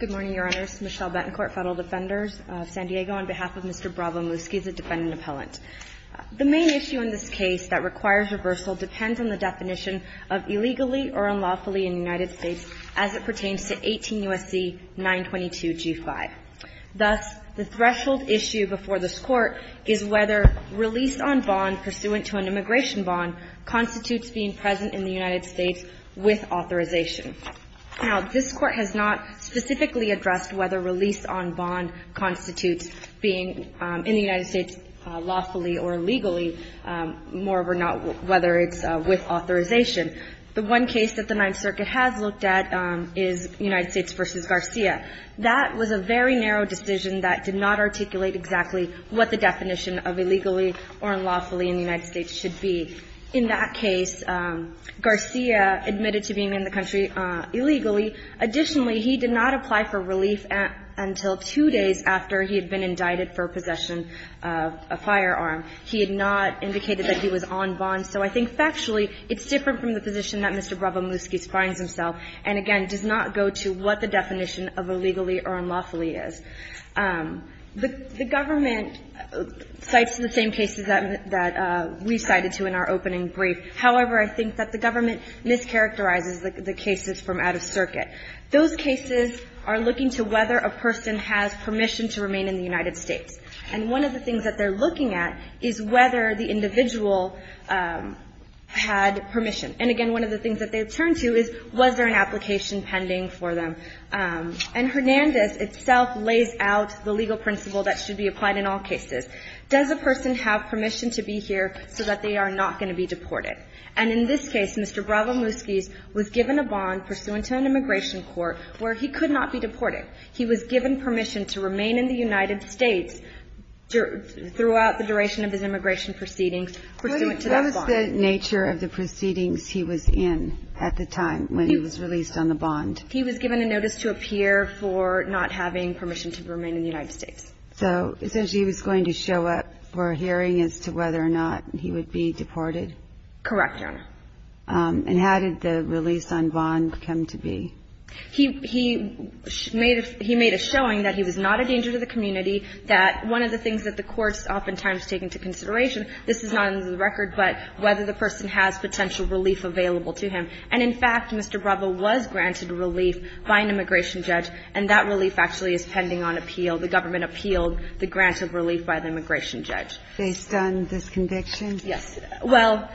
Good morning, Your Honors. Michelle Bettencourt, Federal Defenders of San Diego, on behalf of Mr. Bravo-Muzquiz, a defendant appellant. The main issue in this case that requires reversal depends on the definition of illegally or unlawfully in the United States as it pertains to 18 U.S.C. 922-G5. Thus, the threshold issue before this Court is whether release on bond pursuant to an immigration bond constitutes being present in the United States with authorization. Now, this Court has not specifically addressed whether release on bond constitutes being in the United States lawfully or illegally, moreover not whether it's with authorization. The one case that the Ninth Circuit has looked at is United States v. Garcia. That was a very narrow decision that did not articulate exactly what the definition of illegally or unlawfully in the United States should be. In that case, Garcia admitted to being in the country illegally. Additionally, he did not apply for relief until two days after he had been indicted for possession of a firearm. He had not indicated that he was on bond. So I think factually it's different from the position that Mr. Bravo-Muzquiz finds himself and, again, does not go to what the definition of illegally or unlawfully is. The government cites the same cases that we cited to in our opening brief. However, I think that the government mischaracterizes the cases from out of circuit. Those cases are looking to whether a person has permission to remain in the United States. And one of the things that they're looking at is whether the individual had permission. And, again, one of the things that they turn to is was there an application pending for them. And Hernandez itself lays out the legal principle that should be applied in all cases. Does a person have permission to be here so that they are not going to be deported? And in this case, Mr. Bravo-Muzquiz was given a bond pursuant to an immigration court where he could not be deported. He was given permission to remain in the United States throughout the duration of his immigration proceedings pursuant to that bond. And what was the nature of the proceedings he was in at the time when he was released on the bond? He was given a notice to appear for not having permission to remain in the United States. So essentially he was going to show up for a hearing as to whether or not he would be deported? Correct, Your Honor. And how did the release on bond come to be? He made a showing that he was not a danger to the community, that one of the things that the courts oftentimes take into consideration, this is not in the record, but whether the person has potential relief available to him. And in fact, Mr. Bravo was granted relief by an immigration judge, and that relief actually is pending on appeal. The government appealed the granted relief by the immigration judge. Based on this conviction? Yes. Well,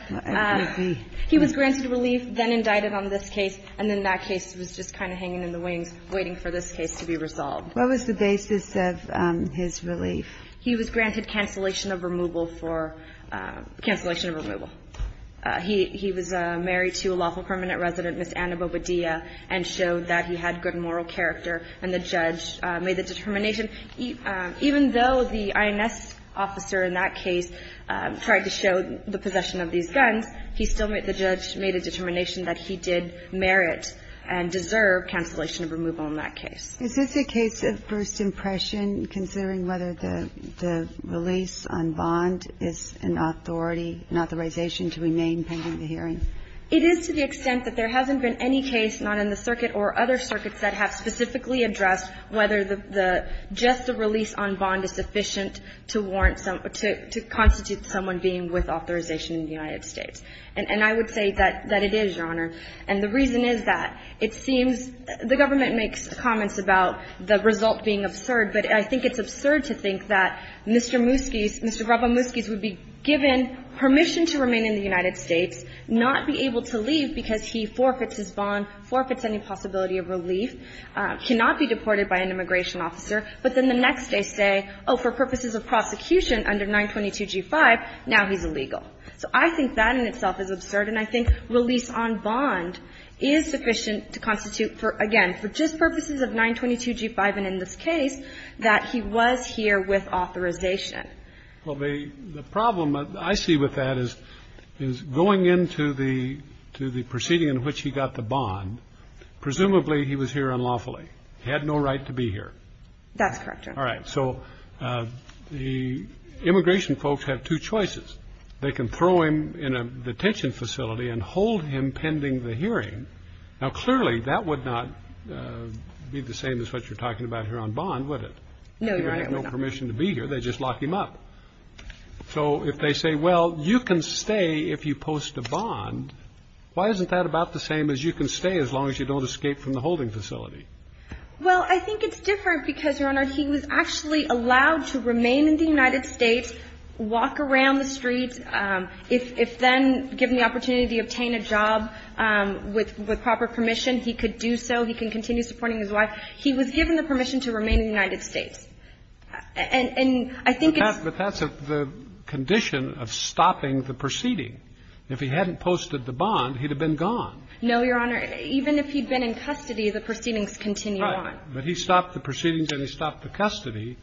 he was granted relief, then indicted on this case, and then that case was just kind of hanging in the wings, waiting for this case to be resolved. What was the basis of his relief? He was granted cancellation of removal for – cancellation of removal. He was married to a lawful permanent resident, Ms. Anna Bobadilla, and showed that he had good moral character, and the judge made the determination. Even though the INS officer in that case tried to show the possession of these guns, he still the judge made a determination that he did merit and deserve cancellation of removal in that case. Is this a case of first impression, considering whether the release on bond is an authority, an authorization to remain pending the hearing? It is to the extent that there hasn't been any case, not in the circuit or other circuits, that have specifically addressed whether the – just the release on bond is sufficient to warrant some – to constitute someone being with authorization in the United States. And I would say that it is, Your Honor. And the reason is that it seems – the government makes comments about the result being absurd, but I think it's absurd to think that Mr. Moosky's – Mr. Raba Moosky's would be given permission to remain in the United States, not be able to leave because he forfeits his bond, forfeits any possibility of relief, cannot be deported by an immigration officer, but then the next day say, oh, for purposes of prosecution under 922G5, now he's illegal. So I think that in itself is absurd, and I think release on bond is sufficient to constitute for, again, for just purposes of 922G5 and in this case, that he was here with authorization. Well, the problem I see with that is going into the proceeding in which he got the bond, presumably he was here unlawfully. He had no right to be here. That's correct, Your Honor. All right. So the immigration folks have two choices. They can throw him in a detention facility and hold him pending the hearing. Now, clearly, that would not be the same as what you're talking about here on bond, would it? No, Your Honor. He would have no permission to be here. They'd just lock him up. So if they say, well, you can stay if you post a bond, why isn't that about the same as you can stay as long as you don't escape from the holding facility? Well, I think it's different because, Your Honor, he was actually allowed to remain in the United States, walk around the streets. If then given the opportunity to obtain a job with proper permission, he could do so. He can continue supporting his wife. He was given the permission to remain in the United States. And I think it's the condition of stopping the proceeding. If he hadn't posted the bond, he'd have been gone. No, Your Honor. Even if he'd been in custody, the proceedings continue on. Right. But he stopped the proceedings and he stopped the custody.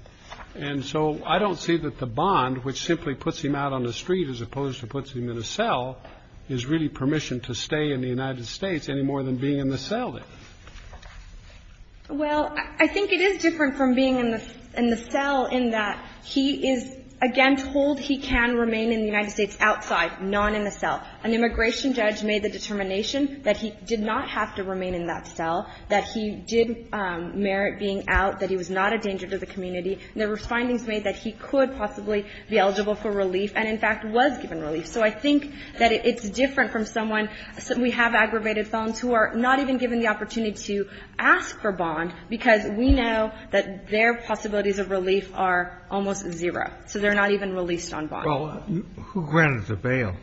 And so I don't see that the bond, which simply puts him out on the street as opposed to puts him in a cell, is really permission to stay in the United States any more than being in the cell is. Well, I think it is different from being in the cell in that he is, again, told he can remain in the United States outside, not in the cell. An immigration judge made the determination that he did not have to remain in that cell, that he did merit being out, that he was not a danger to the community. There were findings made that he could possibly be eligible for relief and, in fact, was given relief. So I think that it's different from someone we have aggravated felons who are not even given the opportunity to ask for bond because we know that their possibilities of relief are almost zero. So they're not even released on bond. Well, who granted the bail?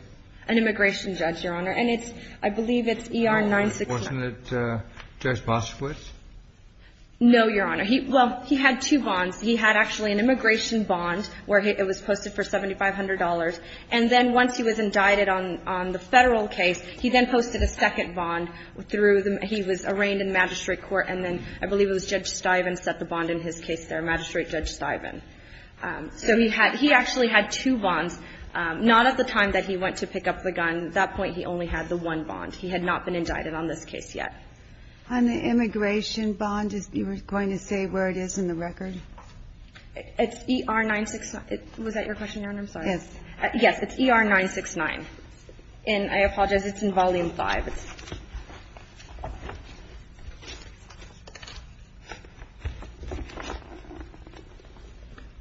An immigration judge, Your Honor. And it's, I believe it's E.R. 916. Wasn't it Judge Boschwitz? No, Your Honor. He, well, he had two bonds. He had actually an immigration bond where it was posted for $7,500. And then once he was indicted on the federal case, he then posted a second bond through the, he was arraigned in magistrate court. And then I believe it was Judge Stiven set the bond in his case there, Magistrate Judge Stiven. So he had, he actually had two bonds. Not at the time that he went to pick up the gun. At that point, he only had the one bond. He had not been indicted on this case yet. On the immigration bond, you were going to say where it is in the record? It's E.R. 916. Was that your question, Your Honor? I'm sorry. Yes. Yes. It's E.R. 969. And I apologize, it's in Volume 5.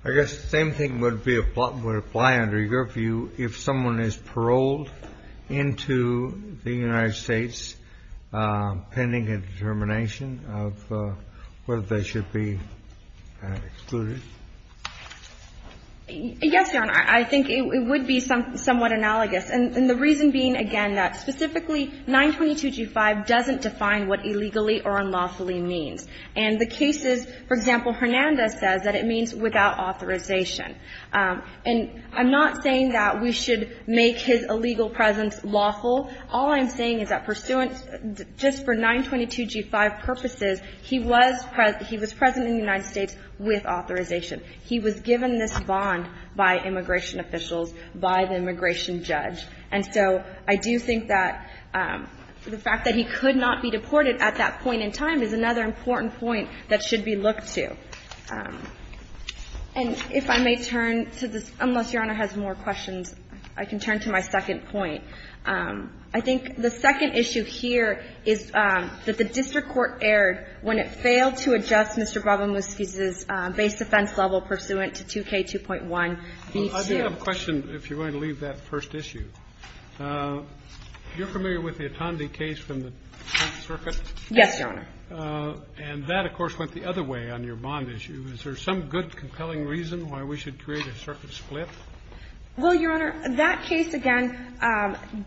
I guess the same thing would apply under your view if someone is paroled into the United States pending a determination of whether they should be excluded? Yes, Your Honor. I think it would be somewhat analogous. And the reason being, again, that specifically 922g5 doesn't define what illegally or unlawfully means. And the cases, for example, Hernandez says that it means without authorization. And I'm not saying that we should make his illegal presence lawful. All I'm saying is that pursuant, just for 922g5 purposes, he was present in the United States with authorization. He was given this bond by immigration officials, by the immigration judge. And so I do think that the fact that he could not be deported at that point in time is another important point that should be looked to. And if I may turn to this, unless Your Honor has more questions, I can turn to my second point. I think the second issue here is that the district court erred when it failed to adjust Mr. Brabhamusky's base offense level pursuant to 2K2.1b2. I do have a question, if you're going to leave that first issue. You're familiar with the Otondi case from the Tenth Circuit? Yes, Your Honor. And that, of course, went the other way on your bond issue. Is there some good, compelling reason why we should create a circuit split? Well, Your Honor, that case, again,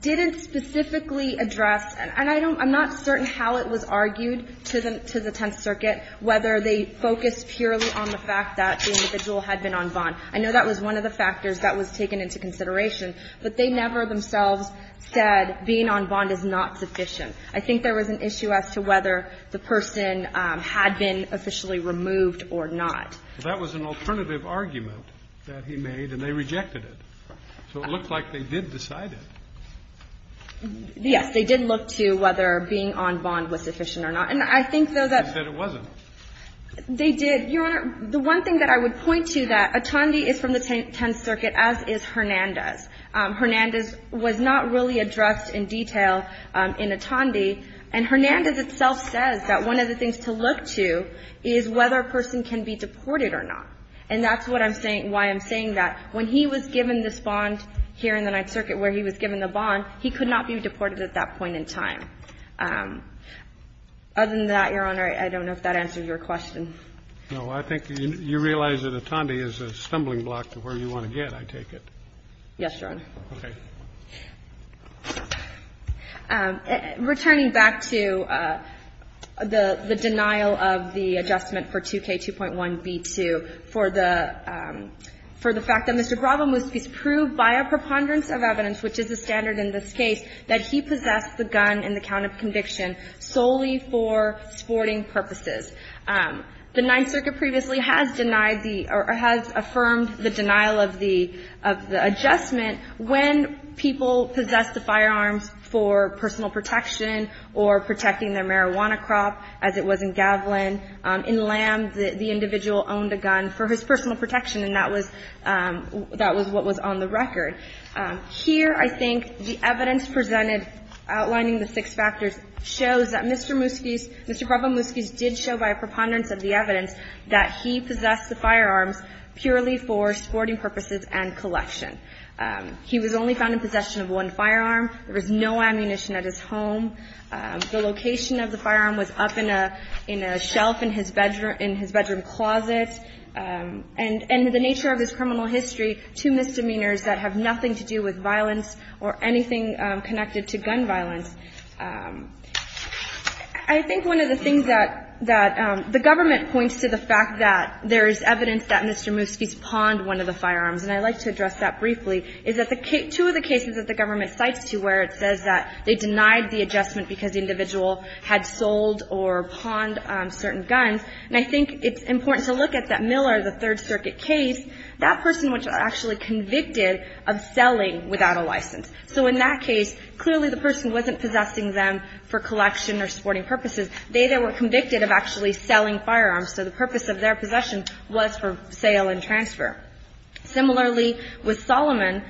didn't specifically address, and I don't – I'm not certain how it was argued to the Tenth Circuit, whether they focused purely on the fact that the individual had been on bond. I know that was one of the factors that was taken into consideration, but they never themselves said being on bond is not sufficient. I think there was an issue as to whether the person had been officially removed or not. That was an alternative argument that he made, and they rejected it. So it looked like they did decide it. Yes. They did look to whether being on bond was sufficient or not. And I think, though, that – They said it wasn't. They did. Your Honor, the one thing that I would point to, that Otondi is from the Tenth Circuit, as is Hernandez. Hernandez was not really addressed in detail in Otondi. And Hernandez itself says that one of the things to look to is whether a person can be deported or not. And that's what I'm saying – why I'm saying that. When he was given this bond here in the Ninth Circuit where he was given the bond, he could not be deported at that point in time. Other than that, Your Honor, I don't know if that answers your question. No. I think you realize that Otondi is a stumbling block to where you want to get, I take it. Yes, Your Honor. I would like to move to 11.17, paragraph 11.1B2 for the fact that Mr. Barrabamuéz prove by a preponderance of evidence that the standard in this case that he possessed the gun in account of conviction solely for sporting purposes. The Ninth Circuit previously has denied, or has affirmed the denial of the adjustment when people possessed the firearms for personal protection or protecting their marijuana crop, as it was in Gavilan. In Lamb, the individual owned a gun for his personal protection, and that was what was on the record. Here, I think the evidence presented outlining the six factors shows that Mr. Muski's Mr. Barrabamuéz did show by a preponderance of the evidence that he possessed the firearms purely for sporting purposes and collection. He was only found in possession of one firearm. There was no ammunition at his home. The location of the firearm was up in a shelf in his bedroom closet. And the nature of his criminal history, two misdemeanors that have nothing to do with violence or anything connected to gun violence. I think one of the things that the government points to the fact that there is evidence that Mr. Muski's pawned one of the firearms, and I'd like to address that briefly, is that two of the cases that the government cites to where it says that they denied the adjustment because the individual had sold or pawned certain guns, and I think it's important to look at that Miller, the Third Circuit case, that person was actually convicted of selling without a license. So in that case, clearly the person wasn't possessing them for collection or sporting purposes. They were convicted of actually selling firearms, so the purpose of their possession was for sale and transfer. Similarly, with Solomon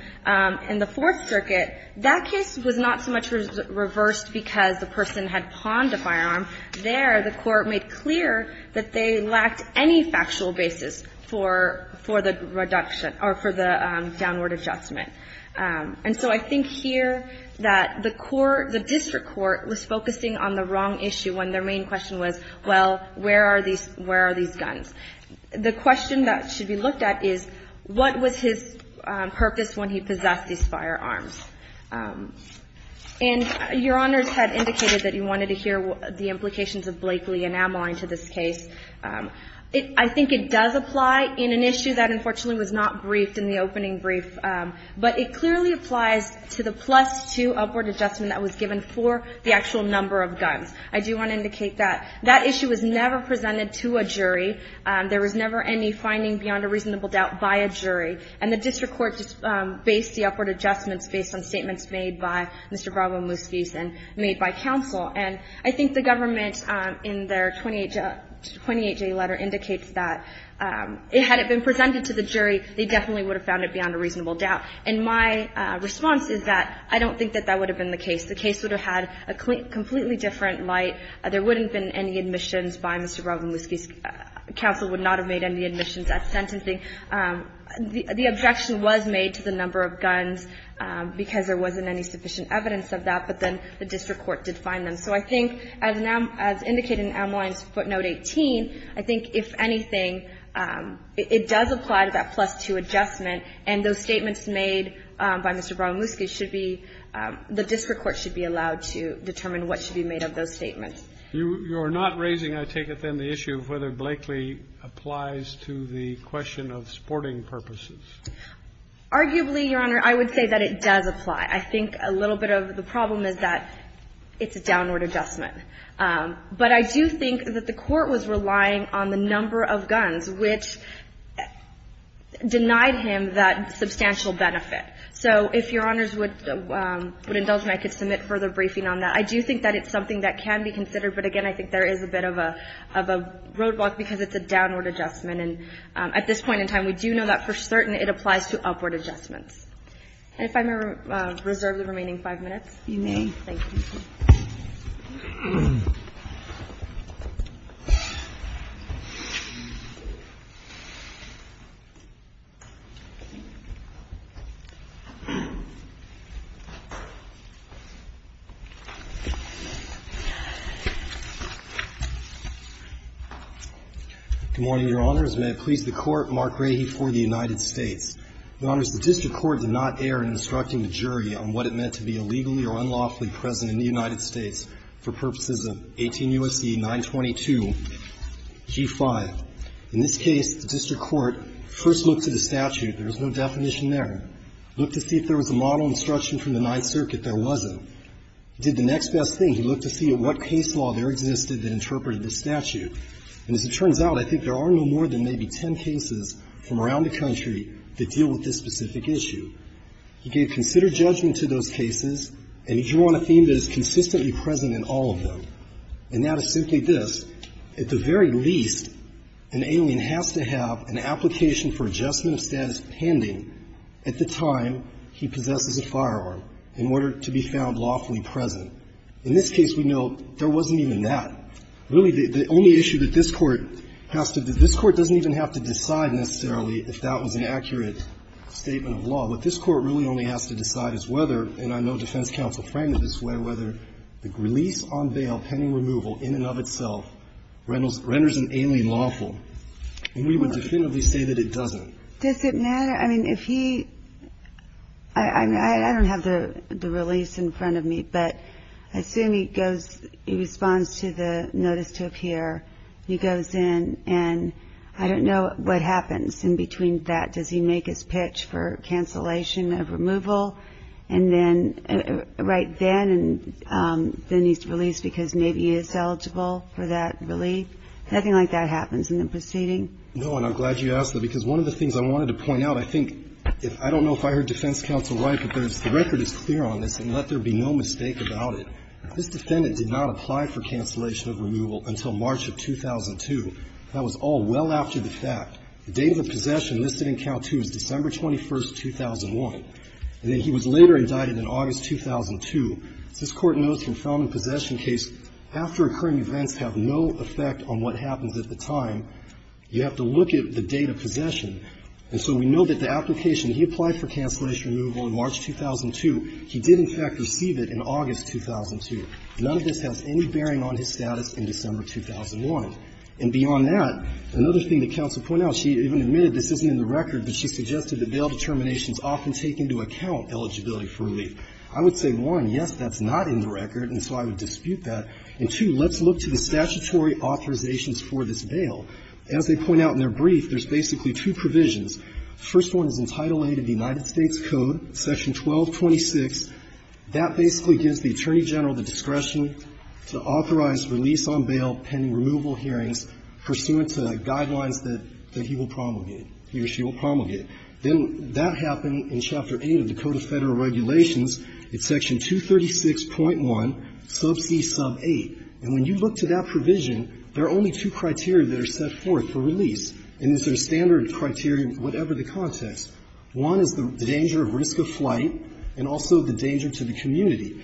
in the Fourth Circuit, that case was not so much reversed because the person had pawned a firearm. There, the Court made clear that they lacked any factual basis for the reduction or for the downward adjustment. And so I think here that the court, the district court, was focusing on the wrong issue when their main question was, well, where are these guns? The question that should be looked at is, what was his purpose when he possessed these firearms? And Your Honors had indicated that you wanted to hear the implications of Blakeley and Amline to this case. I think it does apply in an issue that, unfortunately, was not briefed in the opening brief, but it clearly applies to the plus-two upward adjustment that was given for the actual number of guns. I do want to indicate that. That issue was never presented to a jury. There was never any finding beyond a reasonable doubt by a jury. And the district court just based the upward adjustments based on statements made by Mr. Bravo-Muskies and made by counsel. And I think the government, in their 28-J letter, indicates that, had it been presented to the jury, they definitely would have found it beyond a reasonable doubt. And my response is that I don't think that that would have been the case. The case would have had a completely different light. There wouldn't have been any admissions by Mr. Bravo-Muskies. Counsel would not have made any admissions at sentencing. The objection was made to the number of guns because there wasn't any sufficient evidence of that, but then the district court did find them. So I think, as indicated in Amline's footnote 18, I think, if anything, it does apply to that plus-two adjustment, and those statements made by Mr. Bravo-Muskies should be the district court should be allowed to determine what should be made of those statements. You're not raising, I take it, then, the issue of whether Blakely applies to the question of sporting purposes. Arguably, Your Honor, I would say that it does apply. I think a little bit of the problem is that it's a downward adjustment. But I do think that the Court was relying on the number of guns, which denied him that substantial benefit. So if Your Honors would indulge me, I could submit further briefing on that. I do think that it's something that can be considered. But again, I think there is a bit of a roadblock because it's a downward adjustment. And at this point in time, we do know that, for certain, it applies to upward adjustments. And if I may reserve the remaining five minutes? You may. Thank you. Good morning, Your Honors. May it please the Court, Mark Rahe for the United States. Your Honors, the district court did not err in instructing the jury on what it meant to be illegally or unlawfully present in the United States for purposes of 18 U.S.C. 922, G5. In this case, the district court first looked at the statute. There was no definition there. Looked to see if there was a model instruction from the Ninth Circuit that wasn't. Did the next best thing. He looked to see what case law there existed that interpreted the statute. And as it turns out, I think there are no more than maybe ten cases from around the country that deal with this specific issue. He gave considered judgment to those cases, and he drew on a theme that is consistently present in all of them. And that is simply this. At the very least, an alien has to have an application for adjustment of status pending at the time he possesses a firearm in order to be found lawfully present. In this case, we know there wasn't even that. Really, the only issue that this Court has to do – this Court doesn't even have to decide necessarily if that was an accurate statement of law. What this Court really only has to decide is whether, and I know defense counsel framed it this way, whether the release on bail pending removal in and of itself renders an alien lawful. And we would definitively say that it doesn't. Does it matter? I mean, if he – I don't have the release in front of me, but I assume he goes – he responds to the notice to appear. He goes in, and I don't know what happens in between that. Does he make his pitch for cancellation of removal? And then – right then, and then he's released because maybe he is eligible for that relief? Nothing like that happens in the proceeding. No, and I'm glad you asked that, because one of the things I wanted to point out, I think – I don't know if I heard defense counsel right, but there's – the record is clear on this, and let there be no mistake about it. This defendant did not apply for cancellation of removal until March of 2002. That was all well after the fact. The date of the possession listed in Count II is December 21, 2001. And then he was later indicted in August 2002. As this Court knows from Felman Possession case, after-occurring events have no effect on what happens at the time. You have to look at the date of possession. And so we know that the application – he applied for cancellation of removal in March 2002. He did, in fact, receive it in August 2002. None of this has any bearing on his status in December 2001. And beyond that, another thing that counsel pointed out, she even admitted this isn't in the record, but she suggested that bail determinations often take into account eligibility for relief. I would say, one, yes, that's not in the record, and so I would dispute that. As they point out in their brief, there's basically two provisions. The first one is in Title VIII of the United States Code, Section 1226. That basically gives the Attorney General the discretion to authorize release on bail pending removal hearings pursuant to guidelines that he will promulgate, he or she will promulgate. Then that happened in Chapter VIII of the Code of Federal Regulations. It's Section 236.1, sub c, sub 8. And when you look to that provision, there are only two criteria that are set forth for release. And these are standard criteria, whatever the context. One is the danger of risk of flight, and also the danger to the community.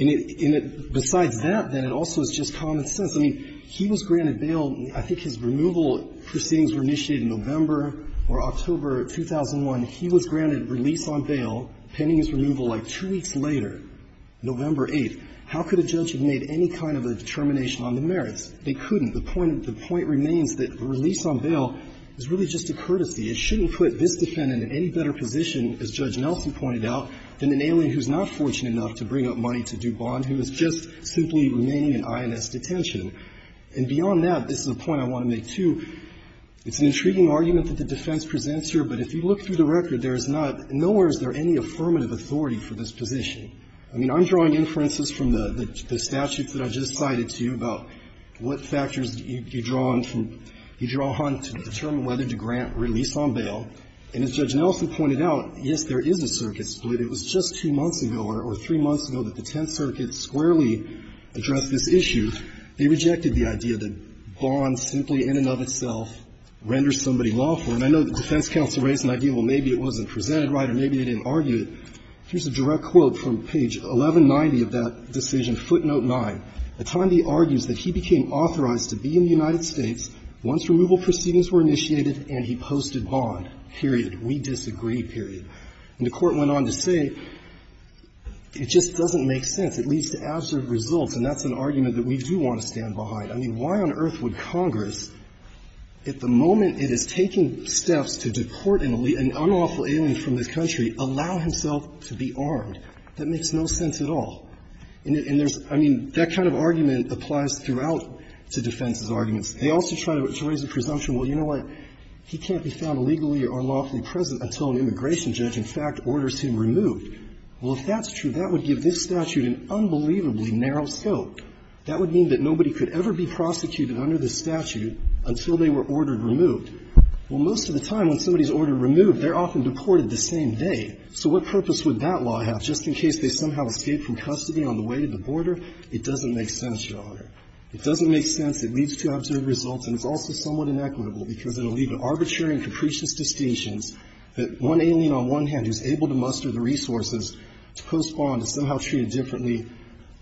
And it – besides that, then, it also is just common sense. I mean, he was granted bail. I think his removal proceedings were initiated in November or October 2001. He was granted release on bail pending his removal, like, two weeks later, November 8th. How could a judge have made any kind of a determination on the merits? They couldn't. The point – the point remains that release on bail is really just a courtesy. It shouldn't put this defendant in any better position, as Judge Nelson pointed out, than an alien who's not fortunate enough to bring up money to do bond, who is just simply remaining in INS detention. And beyond that, this is a point I want to make, too. It's an intriguing argument that the defense presents here, but if you look through the record, there is not – nowhere is there any affirmative authority for this position. I mean, I'm drawing inferences from the – the statutes that I just cited to you about what factors you draw on from – you draw on to determine whether to grant release on bail. And as Judge Nelson pointed out, yes, there is a circuit split. It was just two months ago or three months ago that the Tenth Circuit squarely addressed this issue. They rejected the idea that bond simply in and of itself renders somebody lawful. And I know the defense counsel raised an idea, well, maybe it wasn't presented right or maybe they didn't argue it. Here's a direct quote from page 1190 of that decision, footnote 9. The time he argues that he became authorized to be in the United States once removal proceedings were initiated and he posted bond, period. We disagree, period. And the Court went on to say it just doesn't make sense. It leads to absurd results, and that's an argument that we do want to stand behind. I mean, why on earth would Congress, at the moment it is taking steps to deport an unlawful alien from this country, allow himself to be armed? That makes no sense at all. And there's – I mean, that kind of argument applies throughout to defense's arguments. They also try to raise the presumption, well, you know what, he can't be found legally or unlawfully present until an immigration judge in fact orders him removed. Well, if that's true, that would give this statute an unbelievably narrow scope. That would mean that nobody could ever be prosecuted under this statute until they were ordered removed. Well, most of the time, when somebody is ordered removed, they're often deported the same day. So what purpose would that law have just in case they somehow escape from custody on the way to the border? It doesn't make sense, Your Honor. It doesn't make sense. It leads to absurd results, and it's also somewhat inequitable, because it will lead to arbitrary and capricious distinctions that one alien on one hand who is able to muster the resources to post bond is somehow treated differently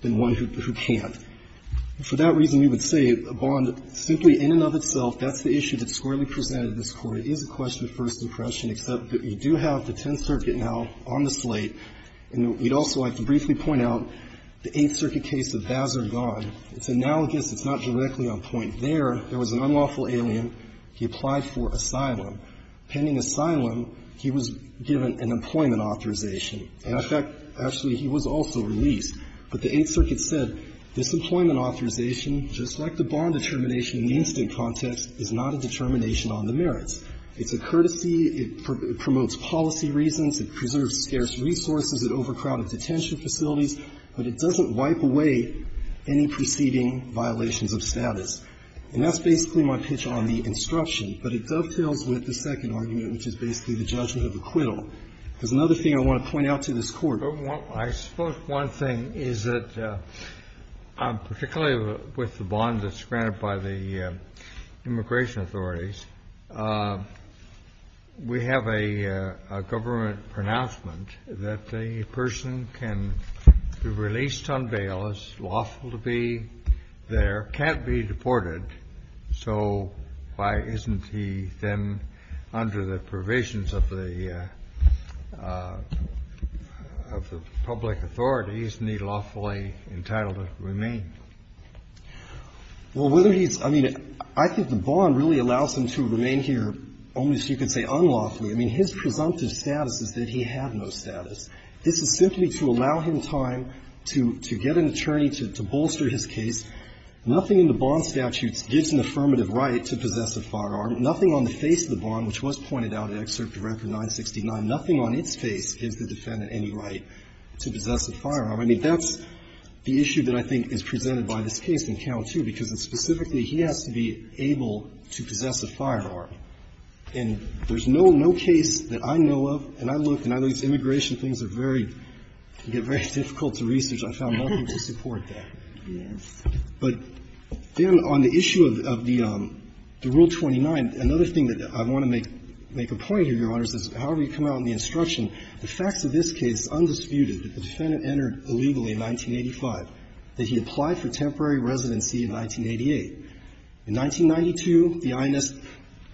than one who can't. For that reason, we would say a bond simply in and of itself, that's the issue that this Court, it is a question of first impression, except that we do have the Tenth Circuit now on the slate. And we'd also like to briefly point out the Eighth Circuit case of Vaz or God. It's analogous. It's not directly on point there. There was an unlawful alien. He applied for asylum. Pending asylum, he was given an employment authorization. And in fact, actually, he was also released. But the Eighth Circuit said, this employment authorization, just like the bond determination in the incident context, is not a determination on the merits. It's a courtesy. It promotes policy reasons. It preserves scarce resources. It overcrowded detention facilities. But it doesn't wipe away any preceding violations of status. And that's basically my pitch on the instruction. But it dovetails with the second argument, which is basically the judgment of acquittal. There's another thing I want to point out to this Court. I suppose one thing is that, particularly with the bond that's granted by the immigration authorities, we have a government pronouncement that the person can be released on bail, is lawful to be there, can't be deported. So why isn't he then, under the provisions of the public authorities, needlessly entitled to remain? Well, whether he's – I mean, I think the bond really allows him to remain here only so you can say unlawfully. I mean, his presumptive status is that he had no status. This is simply to allow him time to get an attorney to bolster his case. Nothing in the bond statutes gives an affirmative right to possess a firearm. Nothing on the face of the bond, which was pointed out in Excerpt to Record 969, nothing on its face gives the defendant any right to possess a firearm. I mean, that's the issue that I think is presented by this case in Count II, because it's specifically he has to be able to possess a firearm. And there's no case that I know of, and I look, and I know it's immigration things are very – get very difficult to research. I found nothing to support that. But then on the issue of the Rule 29, another thing that I want to make a point here, Your Honor, is that however you come out in the instruction, the facts of this case is undisputed that the defendant entered illegally in 1985, that he applied for temporary residency in 1988. In 1992, the INS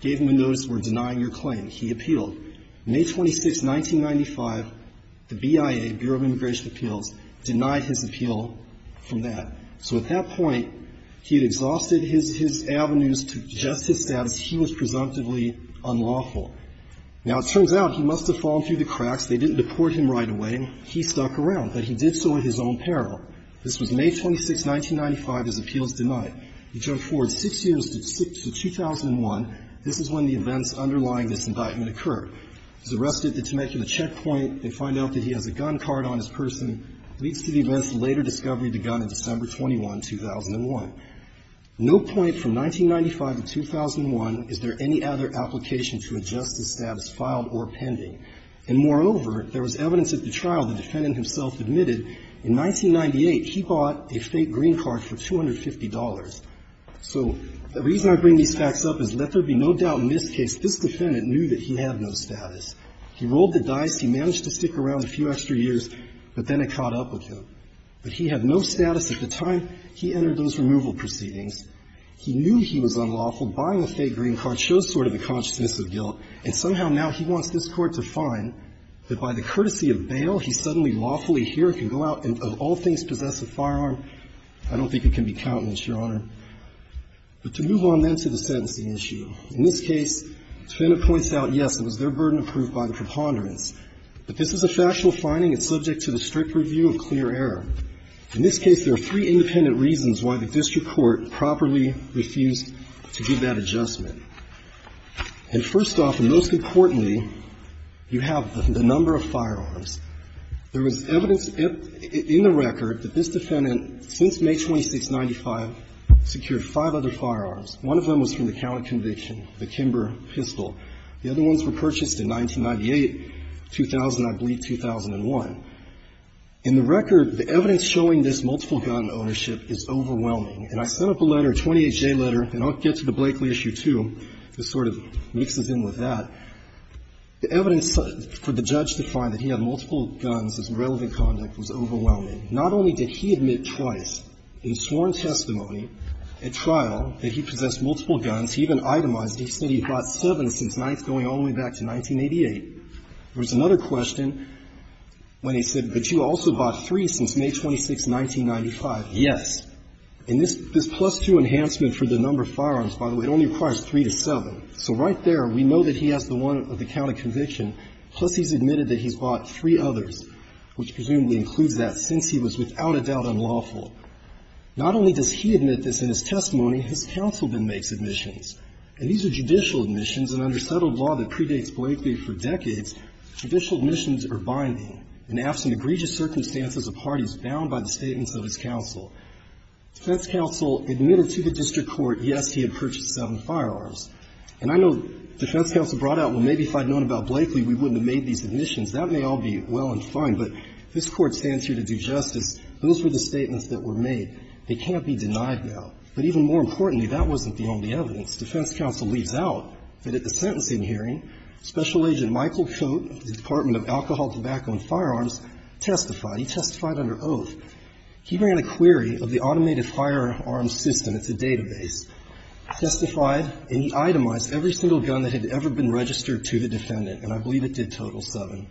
gave him a notice for denying your claim. He appealed. May 26, 1995, the BIA, Bureau of Immigration Appeals, denied his appeal from the So at that point, he had exhausted his avenues to just his status. He was presumptively unlawful. Now, it turns out he must have fallen through the cracks. They didn't deport him right away. He stuck around, but he did so at his own peril. This was May 26, 1995, his appeals denied. He jumped forward 6 years to 2001. This is when the events underlying this indictment occurred. He's arrested at the Temecula checkpoint. They find out that he has a gun card on his person. Leads to the events of later discovery of the gun on December 21, 2001. No point from 1995 to 2001 is there any other application to adjust his status, filed or pending. And moreover, there was evidence at the trial the defendant himself admitted in 1998 he bought a fake green card for $250. So the reason I bring these facts up is let there be no doubt in this case this defendant knew that he had no status. He rolled the dice. He managed to stick around a few extra years. But then it caught up with him. But he had no status at the time he entered those removal proceedings. He knew he was unlawful. Buying a fake green card shows sort of a consciousness of guilt. And somehow now he wants this Court to find that by the courtesy of bail, he's suddenly lawfully here, can go out and of all things possess a firearm. I don't think it can be countenanced, Your Honor. But to move on then to the sentencing issue. In this case, the defendant points out, yes, it was their burden approved by the preponderance. But this is a factual finding. It's subject to the strict review of clear error. In this case, there are three independent reasons why the district court properly refused to give that adjustment. And first off, and most importantly, you have the number of firearms. There was evidence in the record that this defendant, since May 26, 1995, secured five other firearms. One of them was from the counter conviction, the Kimber pistol. The other ones were purchased in 1998, 2000, I believe 2001. In the record, the evidence showing this multiple gun ownership is overwhelming. And I sent up a letter, a 28-J letter, and I'll get to the Blakely issue too. This sort of mixes in with that. The evidence for the judge to find that he had multiple guns as relevant conduct was overwhelming. Not only did he admit twice in sworn testimony at trial that he possessed multiple guns, he even itemized, he said he bought seven since 9th, going all the way back to 1988. There was another question when he said, but you also bought three since May 26, 1995. Yes. And this plus two enhancement for the number of firearms, by the way, it only requires three to seven. So right there, we know that he has the one of the counter conviction, plus he's admitted that he's bought three others, which presumably includes that, since he was without a doubt unlawful. Not only does he admit this in his testimony, his councilman makes admissions. And these are judicial admissions, and under settled law that predates Blakely for decades, judicial admissions are binding. In absent egregious circumstances, a party is bound by the statements of his counsel. Defense counsel admitted to the district court, yes, he had purchased seven firearms. And I know defense counsel brought out, well, maybe if I'd known about Blakely, we wouldn't have made these admissions. That may all be well and fine, but this Court stands here to do justice. Those were the statements that were made. They can't be denied now. But even more importantly, that wasn't the only evidence. Defense counsel leaves out that at the sentencing hearing, Special Agent Michael Coate of the Department of Alcohol, Tobacco and Firearms testified. He testified under oath. He ran a query of the automated firearms system. It's a database. Testified, and he itemized every single gun that had ever been registered to the defendant, and I believe it did total seven.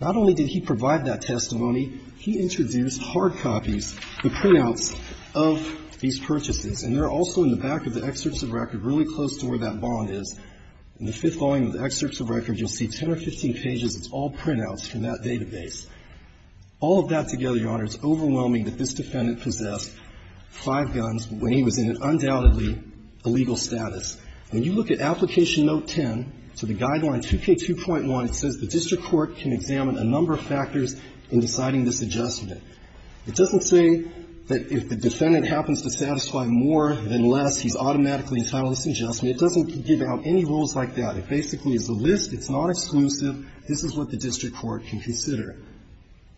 Not only did he provide that testimony, he introduced hard copies, the printouts of these purchases, and they're also in the back of the excerpts of record, really close to where that bond is. In the fifth volume of the excerpts of record, you'll see 10 or 15 pages. It's all printouts from that database. All of that together, Your Honor, it's overwhelming that this defendant possessed five guns when he was in an undoubtedly illegal status. When you look at Application Note 10, to the Guideline 2K2.1, it says the district court can examine a number of factors in deciding this adjustment. It doesn't say that if the defendant happens to satisfy more than less, he's automatically entitled to this adjustment. It doesn't give out any rules like that. It basically is a list. It's not exclusive. This is what the district court can consider.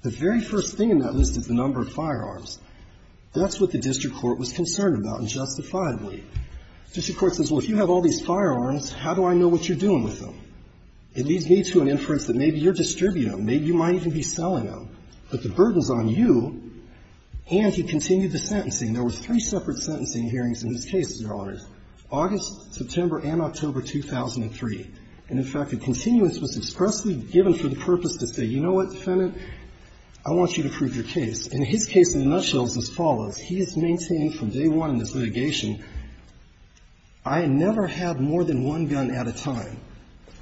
The very first thing in that list is the number of firearms. That's what the district court was concerned about, and justifiably. The district court says, well, if you have all these firearms, how do I know what you're doing with them? It leads me to an inference that maybe you're distributing them. Maybe you might even be selling them. But the burden's on you, and he continued the sentencing. There was three separate sentencing hearings in his case, Your Honors, August, September, and October 2003. And, in fact, a continuance was expressly given for the purpose to say, you know what, defendant, I want you to prove your case. And his case, in a nutshell, is as follows. He has maintained from day one in this litigation, I never had more than one gun at a time.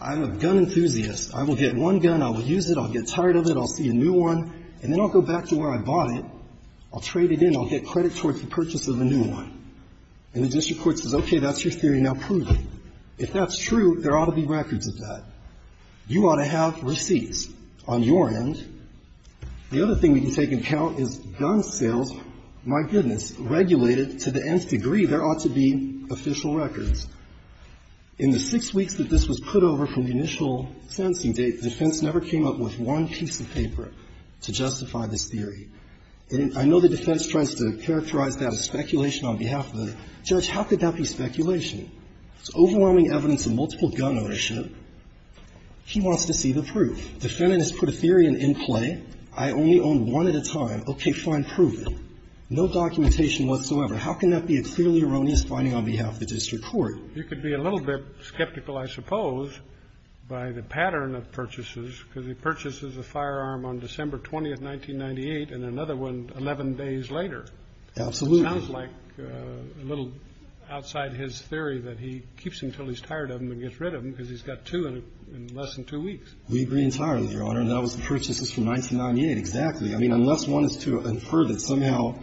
I'm a gun enthusiast. I will get one gun, I will use it, I'll get tired of it, I'll see a new one, and then I'll go back to where I bought it, I'll trade it in, I'll get credit towards the purchase of a new one. And the district court says, okay, that's your theory, now prove it. If that's true, there ought to be records of that. You ought to have receipts on your end. The other thing we can take into account is gun sales, my goodness, regulated to the nth degree, there ought to be official records. In the six weeks that this was put over from the initial sentencing date, the defense never came up with one piece of paper to justify this theory. And I know the defense tries to characterize that as speculation on behalf of the judge. How could that be speculation? It's overwhelming evidence of multiple gun ownership. He wants to see the proof. The defendant has put a theory in play, I only own one at a time. Okay, fine, prove it. No documentation whatsoever. How can that be a clearly erroneous finding on behalf of the district court? You could be a little bit skeptical, I suppose, by the pattern of purchases, because he purchases a firearm on December 20th, 1998, and another one 11 days later. Absolutely. It sounds like a little outside his theory that he keeps them until he's tired of them and gets rid of them because he's got two in less than two weeks. We agree entirely, Your Honor, and that was the purchases from 1998, exactly. I mean, unless one is to infer that somehow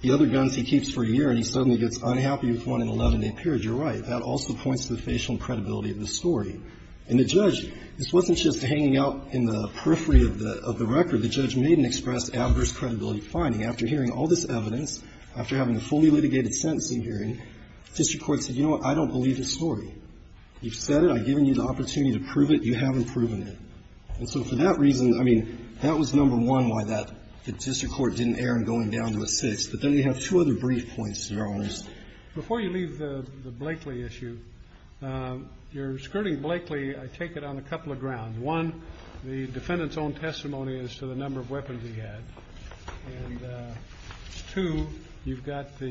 the other guns he keeps for a year and he suddenly gets unhappy with one in an 11-day period, you're right. That also points to the facial credibility of the story. And the judge, this wasn't just hanging out in the periphery of the record. The judge made an express adverse credibility finding. After hearing all this evidence, after having a fully litigated sentencing hearing, the district court said, you know what, I don't believe this story. You've said it, I've given you the opportunity to prove it, you haven't proven it. And so for that reason, I mean, that was number one why that district court didn't err in going down to a six. But then we have two other brief points, Your Honors. Before you leave the Blakeley issue, your skirting Blakeley, I take it on a couple of grounds. One, the defendant's own testimony as to the number of weapons he had. And two, you've got the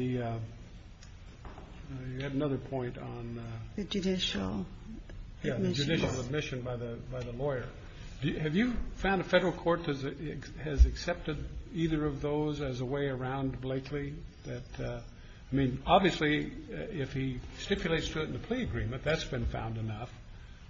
you had another point on the judicial admission by the lawyer. Have you found a Federal court has accepted either of those as a way around Blakeley? I mean, obviously, if he stipulates to it in the plea agreement, that's been found enough.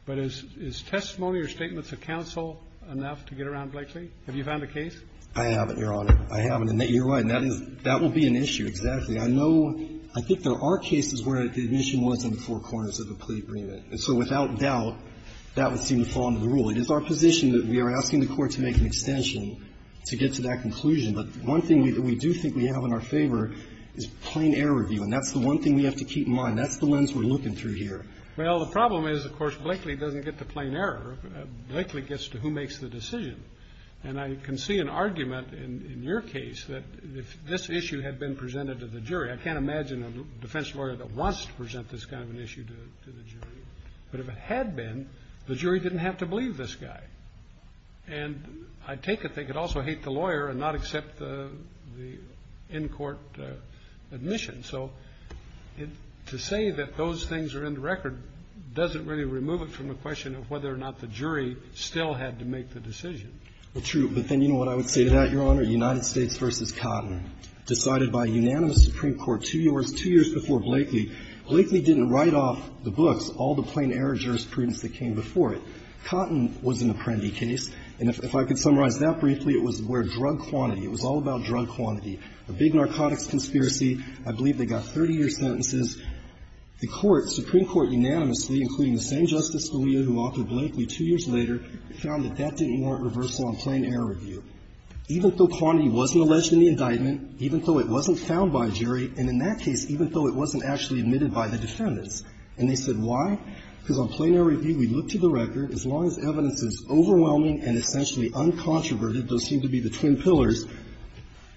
But is testimony or statements of counsel enough to get around Blakeley? Have you found a case? I haven't, Your Honor. I haven't. And you're right, that will be an issue. Exactly. I know, I think there are cases where the admission was in the four corners of the plea agreement. And so without doubt, that would seem to fall under the rule. It is our position that we are asking the Court to make an extension to get to that conclusion. But one thing that we do think we have in our favor is plain error review. And that's the one thing we have to keep in mind. That's the lens we're looking through here. Well, the problem is, of course, Blakeley doesn't get to plain error. Blakeley gets to who makes the decision. And I can see an argument in your case that if this issue had been presented to the jury, I can't imagine a defense lawyer that wants to present this kind of an issue to the jury. But if it had been, the jury didn't have to believe this guy. And I take it they could also hate the lawyer and not accept the in-court admission. So to say that those things are in the record doesn't really remove it from the question of whether or not the jury still had to make the decision. Well, true. But then you know what I would say to that, Your Honor? United States v. Cotton, decided by unanimous Supreme Court two years before Blakeley. Blakeley didn't write off the books, all the plain error jurisprudence that came before it. Cotton was an apprendi case. And if I could summarize that briefly, it was where drug quantity, it was all about drug quantity. A big narcotics conspiracy. I believe they got 30-year sentences. The Court, Supreme Court unanimously, including the same Justice Scalia who authored Blakeley two years later, found that that didn't warrant reversal on plain error review. Even though quantity wasn't alleged in the indictment, even though it wasn't found by a jury, and in that case, even though it wasn't actually admitted by the defendants. And they said, why? Because on plain error review, we look to the record. As long as evidence is overwhelming and essentially uncontroverted, those seem to be the twin pillars,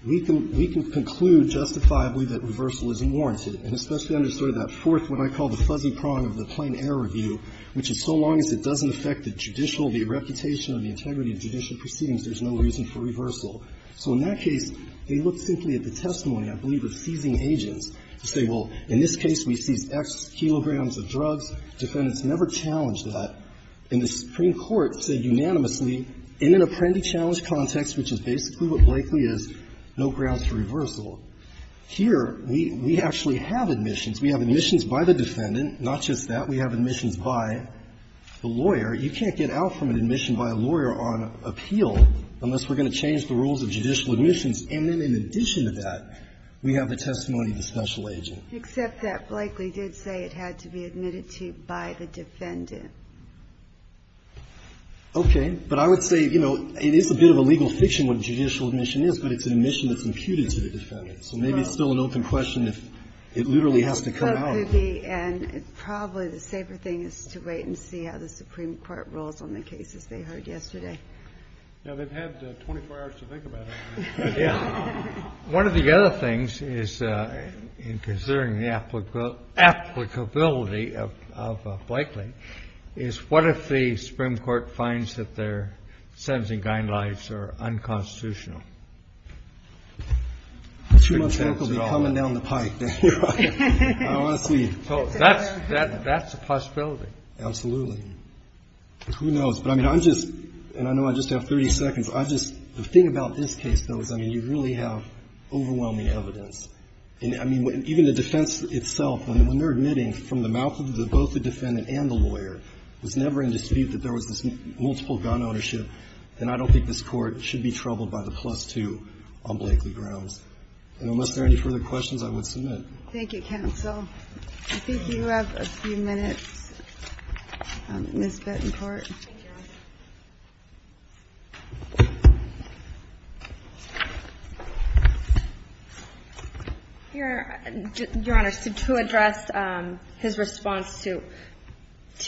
we can conclude justifiably that reversal isn't warranted. And especially under sort of that fourth, what I call the fuzzy prong of the plain error review, which is so long as it doesn't affect the judicial, the reputation or the integrity of judicial proceedings, there's no reason for reversal. So in that case, they look simply at the testimony, I believe, of seizing agents to say, well, in this case, we seized X kilograms of drugs. Defendants never challenged that. And the Supreme Court said unanimously, in an apprendee challenge context, which is basically what Blakeley is, no grounds for reversal. Here, we actually have admissions. We have admissions by the defendant, not just that. We have admissions by the lawyer. You can't get out from an admission by a lawyer on appeal unless we're going to change the rules of judicial admissions. And then in addition to that, we have the testimony of the special agent. Except that Blakeley did say it had to be admitted to by the defendant. Okay. But I would say, you know, it is a bit of a legal fiction what a judicial admission is, but it's an admission that's imputed to the defendant. So maybe it's still an open question if it literally has to come out. But it could be, and probably the safer thing is to wait and see how the Supreme Court rules on the cases they heard yesterday. Yeah, they've had 24 hours to think about it. One of the other things is, in considering the applicability of Blakeley, is what if the Supreme Court finds that their sentencing guidelines are unconstitutional? Two months later, they'll be coming down the pipe. I don't want to see. So that's a possibility. Absolutely. Who knows? But I mean, I'm just, and I know I just have 30 seconds, I'm just, the thing about this case, though, is, I mean, you really have overwhelming evidence. And I mean, even the defense itself, when they're admitting from the mouth of both the defendant and the lawyer, was never in dispute that there was this multiple gun ownership, then I don't think this Court should be troubled by the plus-two on Blakeley grounds. And unless there are any further questions, I would submit. Thank you, counsel. I think you have a few minutes. Ms. Bettencourt. Thank you, Your Honor. Your Honor, to address his response to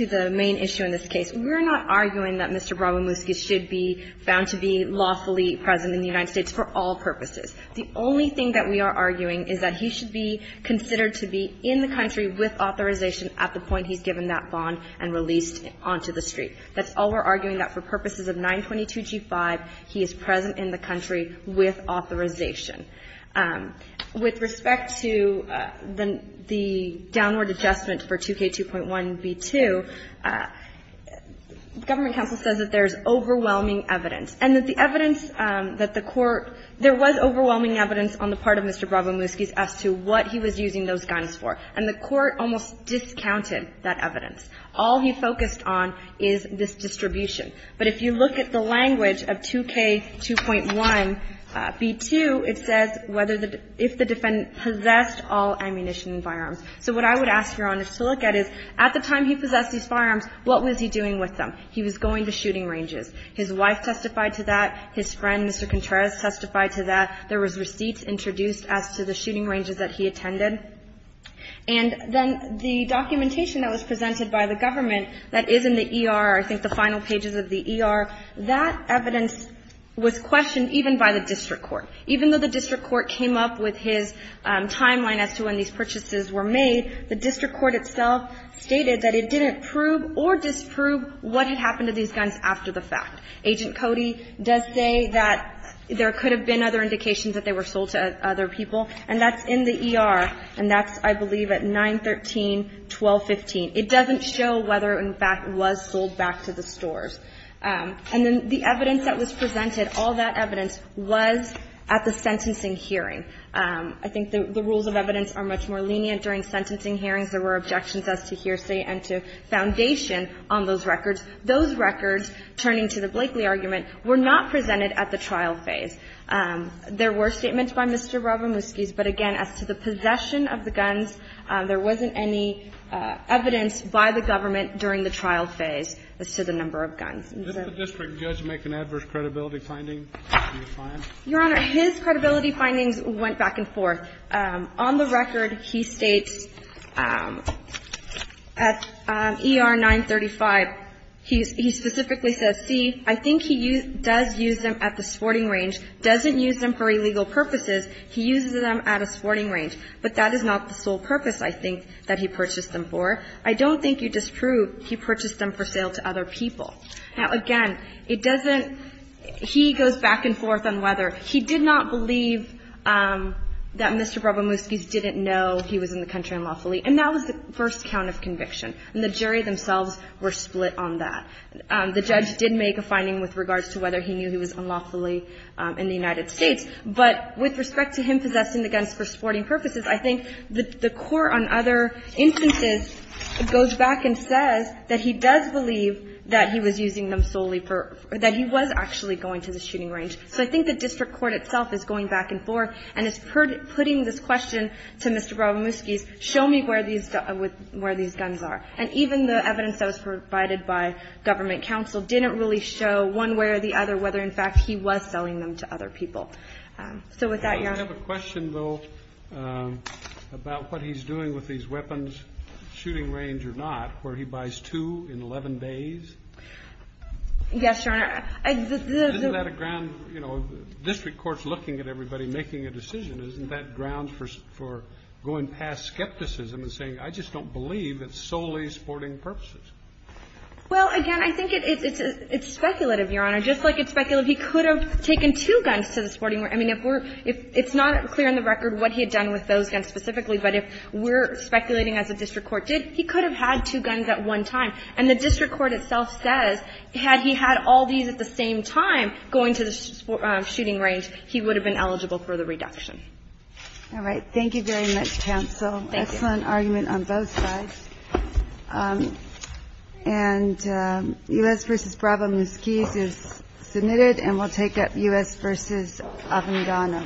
the main issue in this case, we're not arguing that Mr. Bromwimewski should be found to be lawfully present in the United States for all purposes. The only thing that we are arguing is that he should be considered to be in the country with authorization at the point he's given that bond and released onto the street. That's all we're arguing, that for purposes of 922g5, he is present in the country with authorization. With respect to the downward adjustment for 2K2.1b2, government counsel says that there's overwhelming evidence, and that the evidence that the Court – there was overwhelming evidence on the part of Mr. Bromwimewski as to what he was using those firearms for, that the Court almost discounted that evidence. All he focused on is this distribution. But if you look at the language of 2K2.1b2, it says whether the – if the defendant possessed all ammunition and firearms. So what I would ask, Your Honor, to look at is, at the time he possessed these firearms, what was he doing with them? He was going to shooting ranges. His wife testified to that. His friend, Mr. Contreras, testified to that. There was receipts introduced as to the shooting ranges that he attended. And then the documentation that was presented by the government that is in the ER, I think the final pages of the ER, that evidence was questioned even by the district court. Even though the district court came up with his timeline as to when these purchases were made, the district court itself stated that it didn't prove or disprove what had happened to these guns after the fact. Agent Cody does say that there could have been other indications that they were sold to other people, and that's in the ER, and that's, I believe, at 913-1215. It doesn't show whether, in fact, it was sold back to the stores. And then the evidence that was presented, all that evidence was at the sentencing hearing. I think the rules of evidence are much more lenient. During sentencing hearings, there were objections as to hearsay and to foundation on those records. Those records, turning to the Blakeley argument, were not presented at the trial phase. There were statements by Mr. Robomuskis, but again, as to the possession of the guns, there wasn't any evidence by the government during the trial phase as to the number of guns. And so the district judge make an adverse credibility finding in his findings? Your Honor, his credibility findings went back and forth. On the record, he states at ER-935, he specifically says, see, I think he does use them at the sporting range, doesn't use them for illegal purposes, he uses them at a sporting range. But that is not the sole purpose, I think, that he purchased them for. I don't think you disprove he purchased them for sale to other people. Now, again, it doesn't he goes back and forth on whether he did not believe that Mr. Robomuskis didn't know he was in the country unlawfully. And that was the first count of conviction. And the jury themselves were split on that. The judge did make a finding with regards to whether he knew he was unlawfully in the United States. But with respect to him possessing the guns for sporting purposes, I think the court on other instances goes back and says that he does believe that he was using them solely for or that he was actually going to the shooting range. So I think the district court itself is going back and forth and is putting this question to Mr. Robomuskis, show me where these guns are. And even the evidence that was provided by government counsel didn't really show one way or the other whether, in fact, he was selling them to other people. So with that, Your Honor ---- Kennedy. I have a question, though, about what he's doing with these weapons, shooting range or not, where he buys two in 11 days. Yes, Your Honor. Isn't that a ground, you know, district court's looking at everybody making a decision. Isn't that ground for going past skepticism and saying, I just don't believe it's solely sporting purposes? Well, again, I think it's speculative, Your Honor. Just like it's speculative, he could have taken two guns to the sporting range. I mean, if we're ---- it's not clear on the record what he had done with those guns specifically, but if we're speculating as a district court did, he could have had two guns at one time. And the district court itself says, had he had all these at the same time going to the shooting range, he would have been eligible for the reduction. All right. Thank you very much, counsel. Thank you. Excellent argument on both sides. And U.S. v. Brava-Musquiz is submitted, and we'll take up U.S. v. Avangano. Thank you, Your Honor.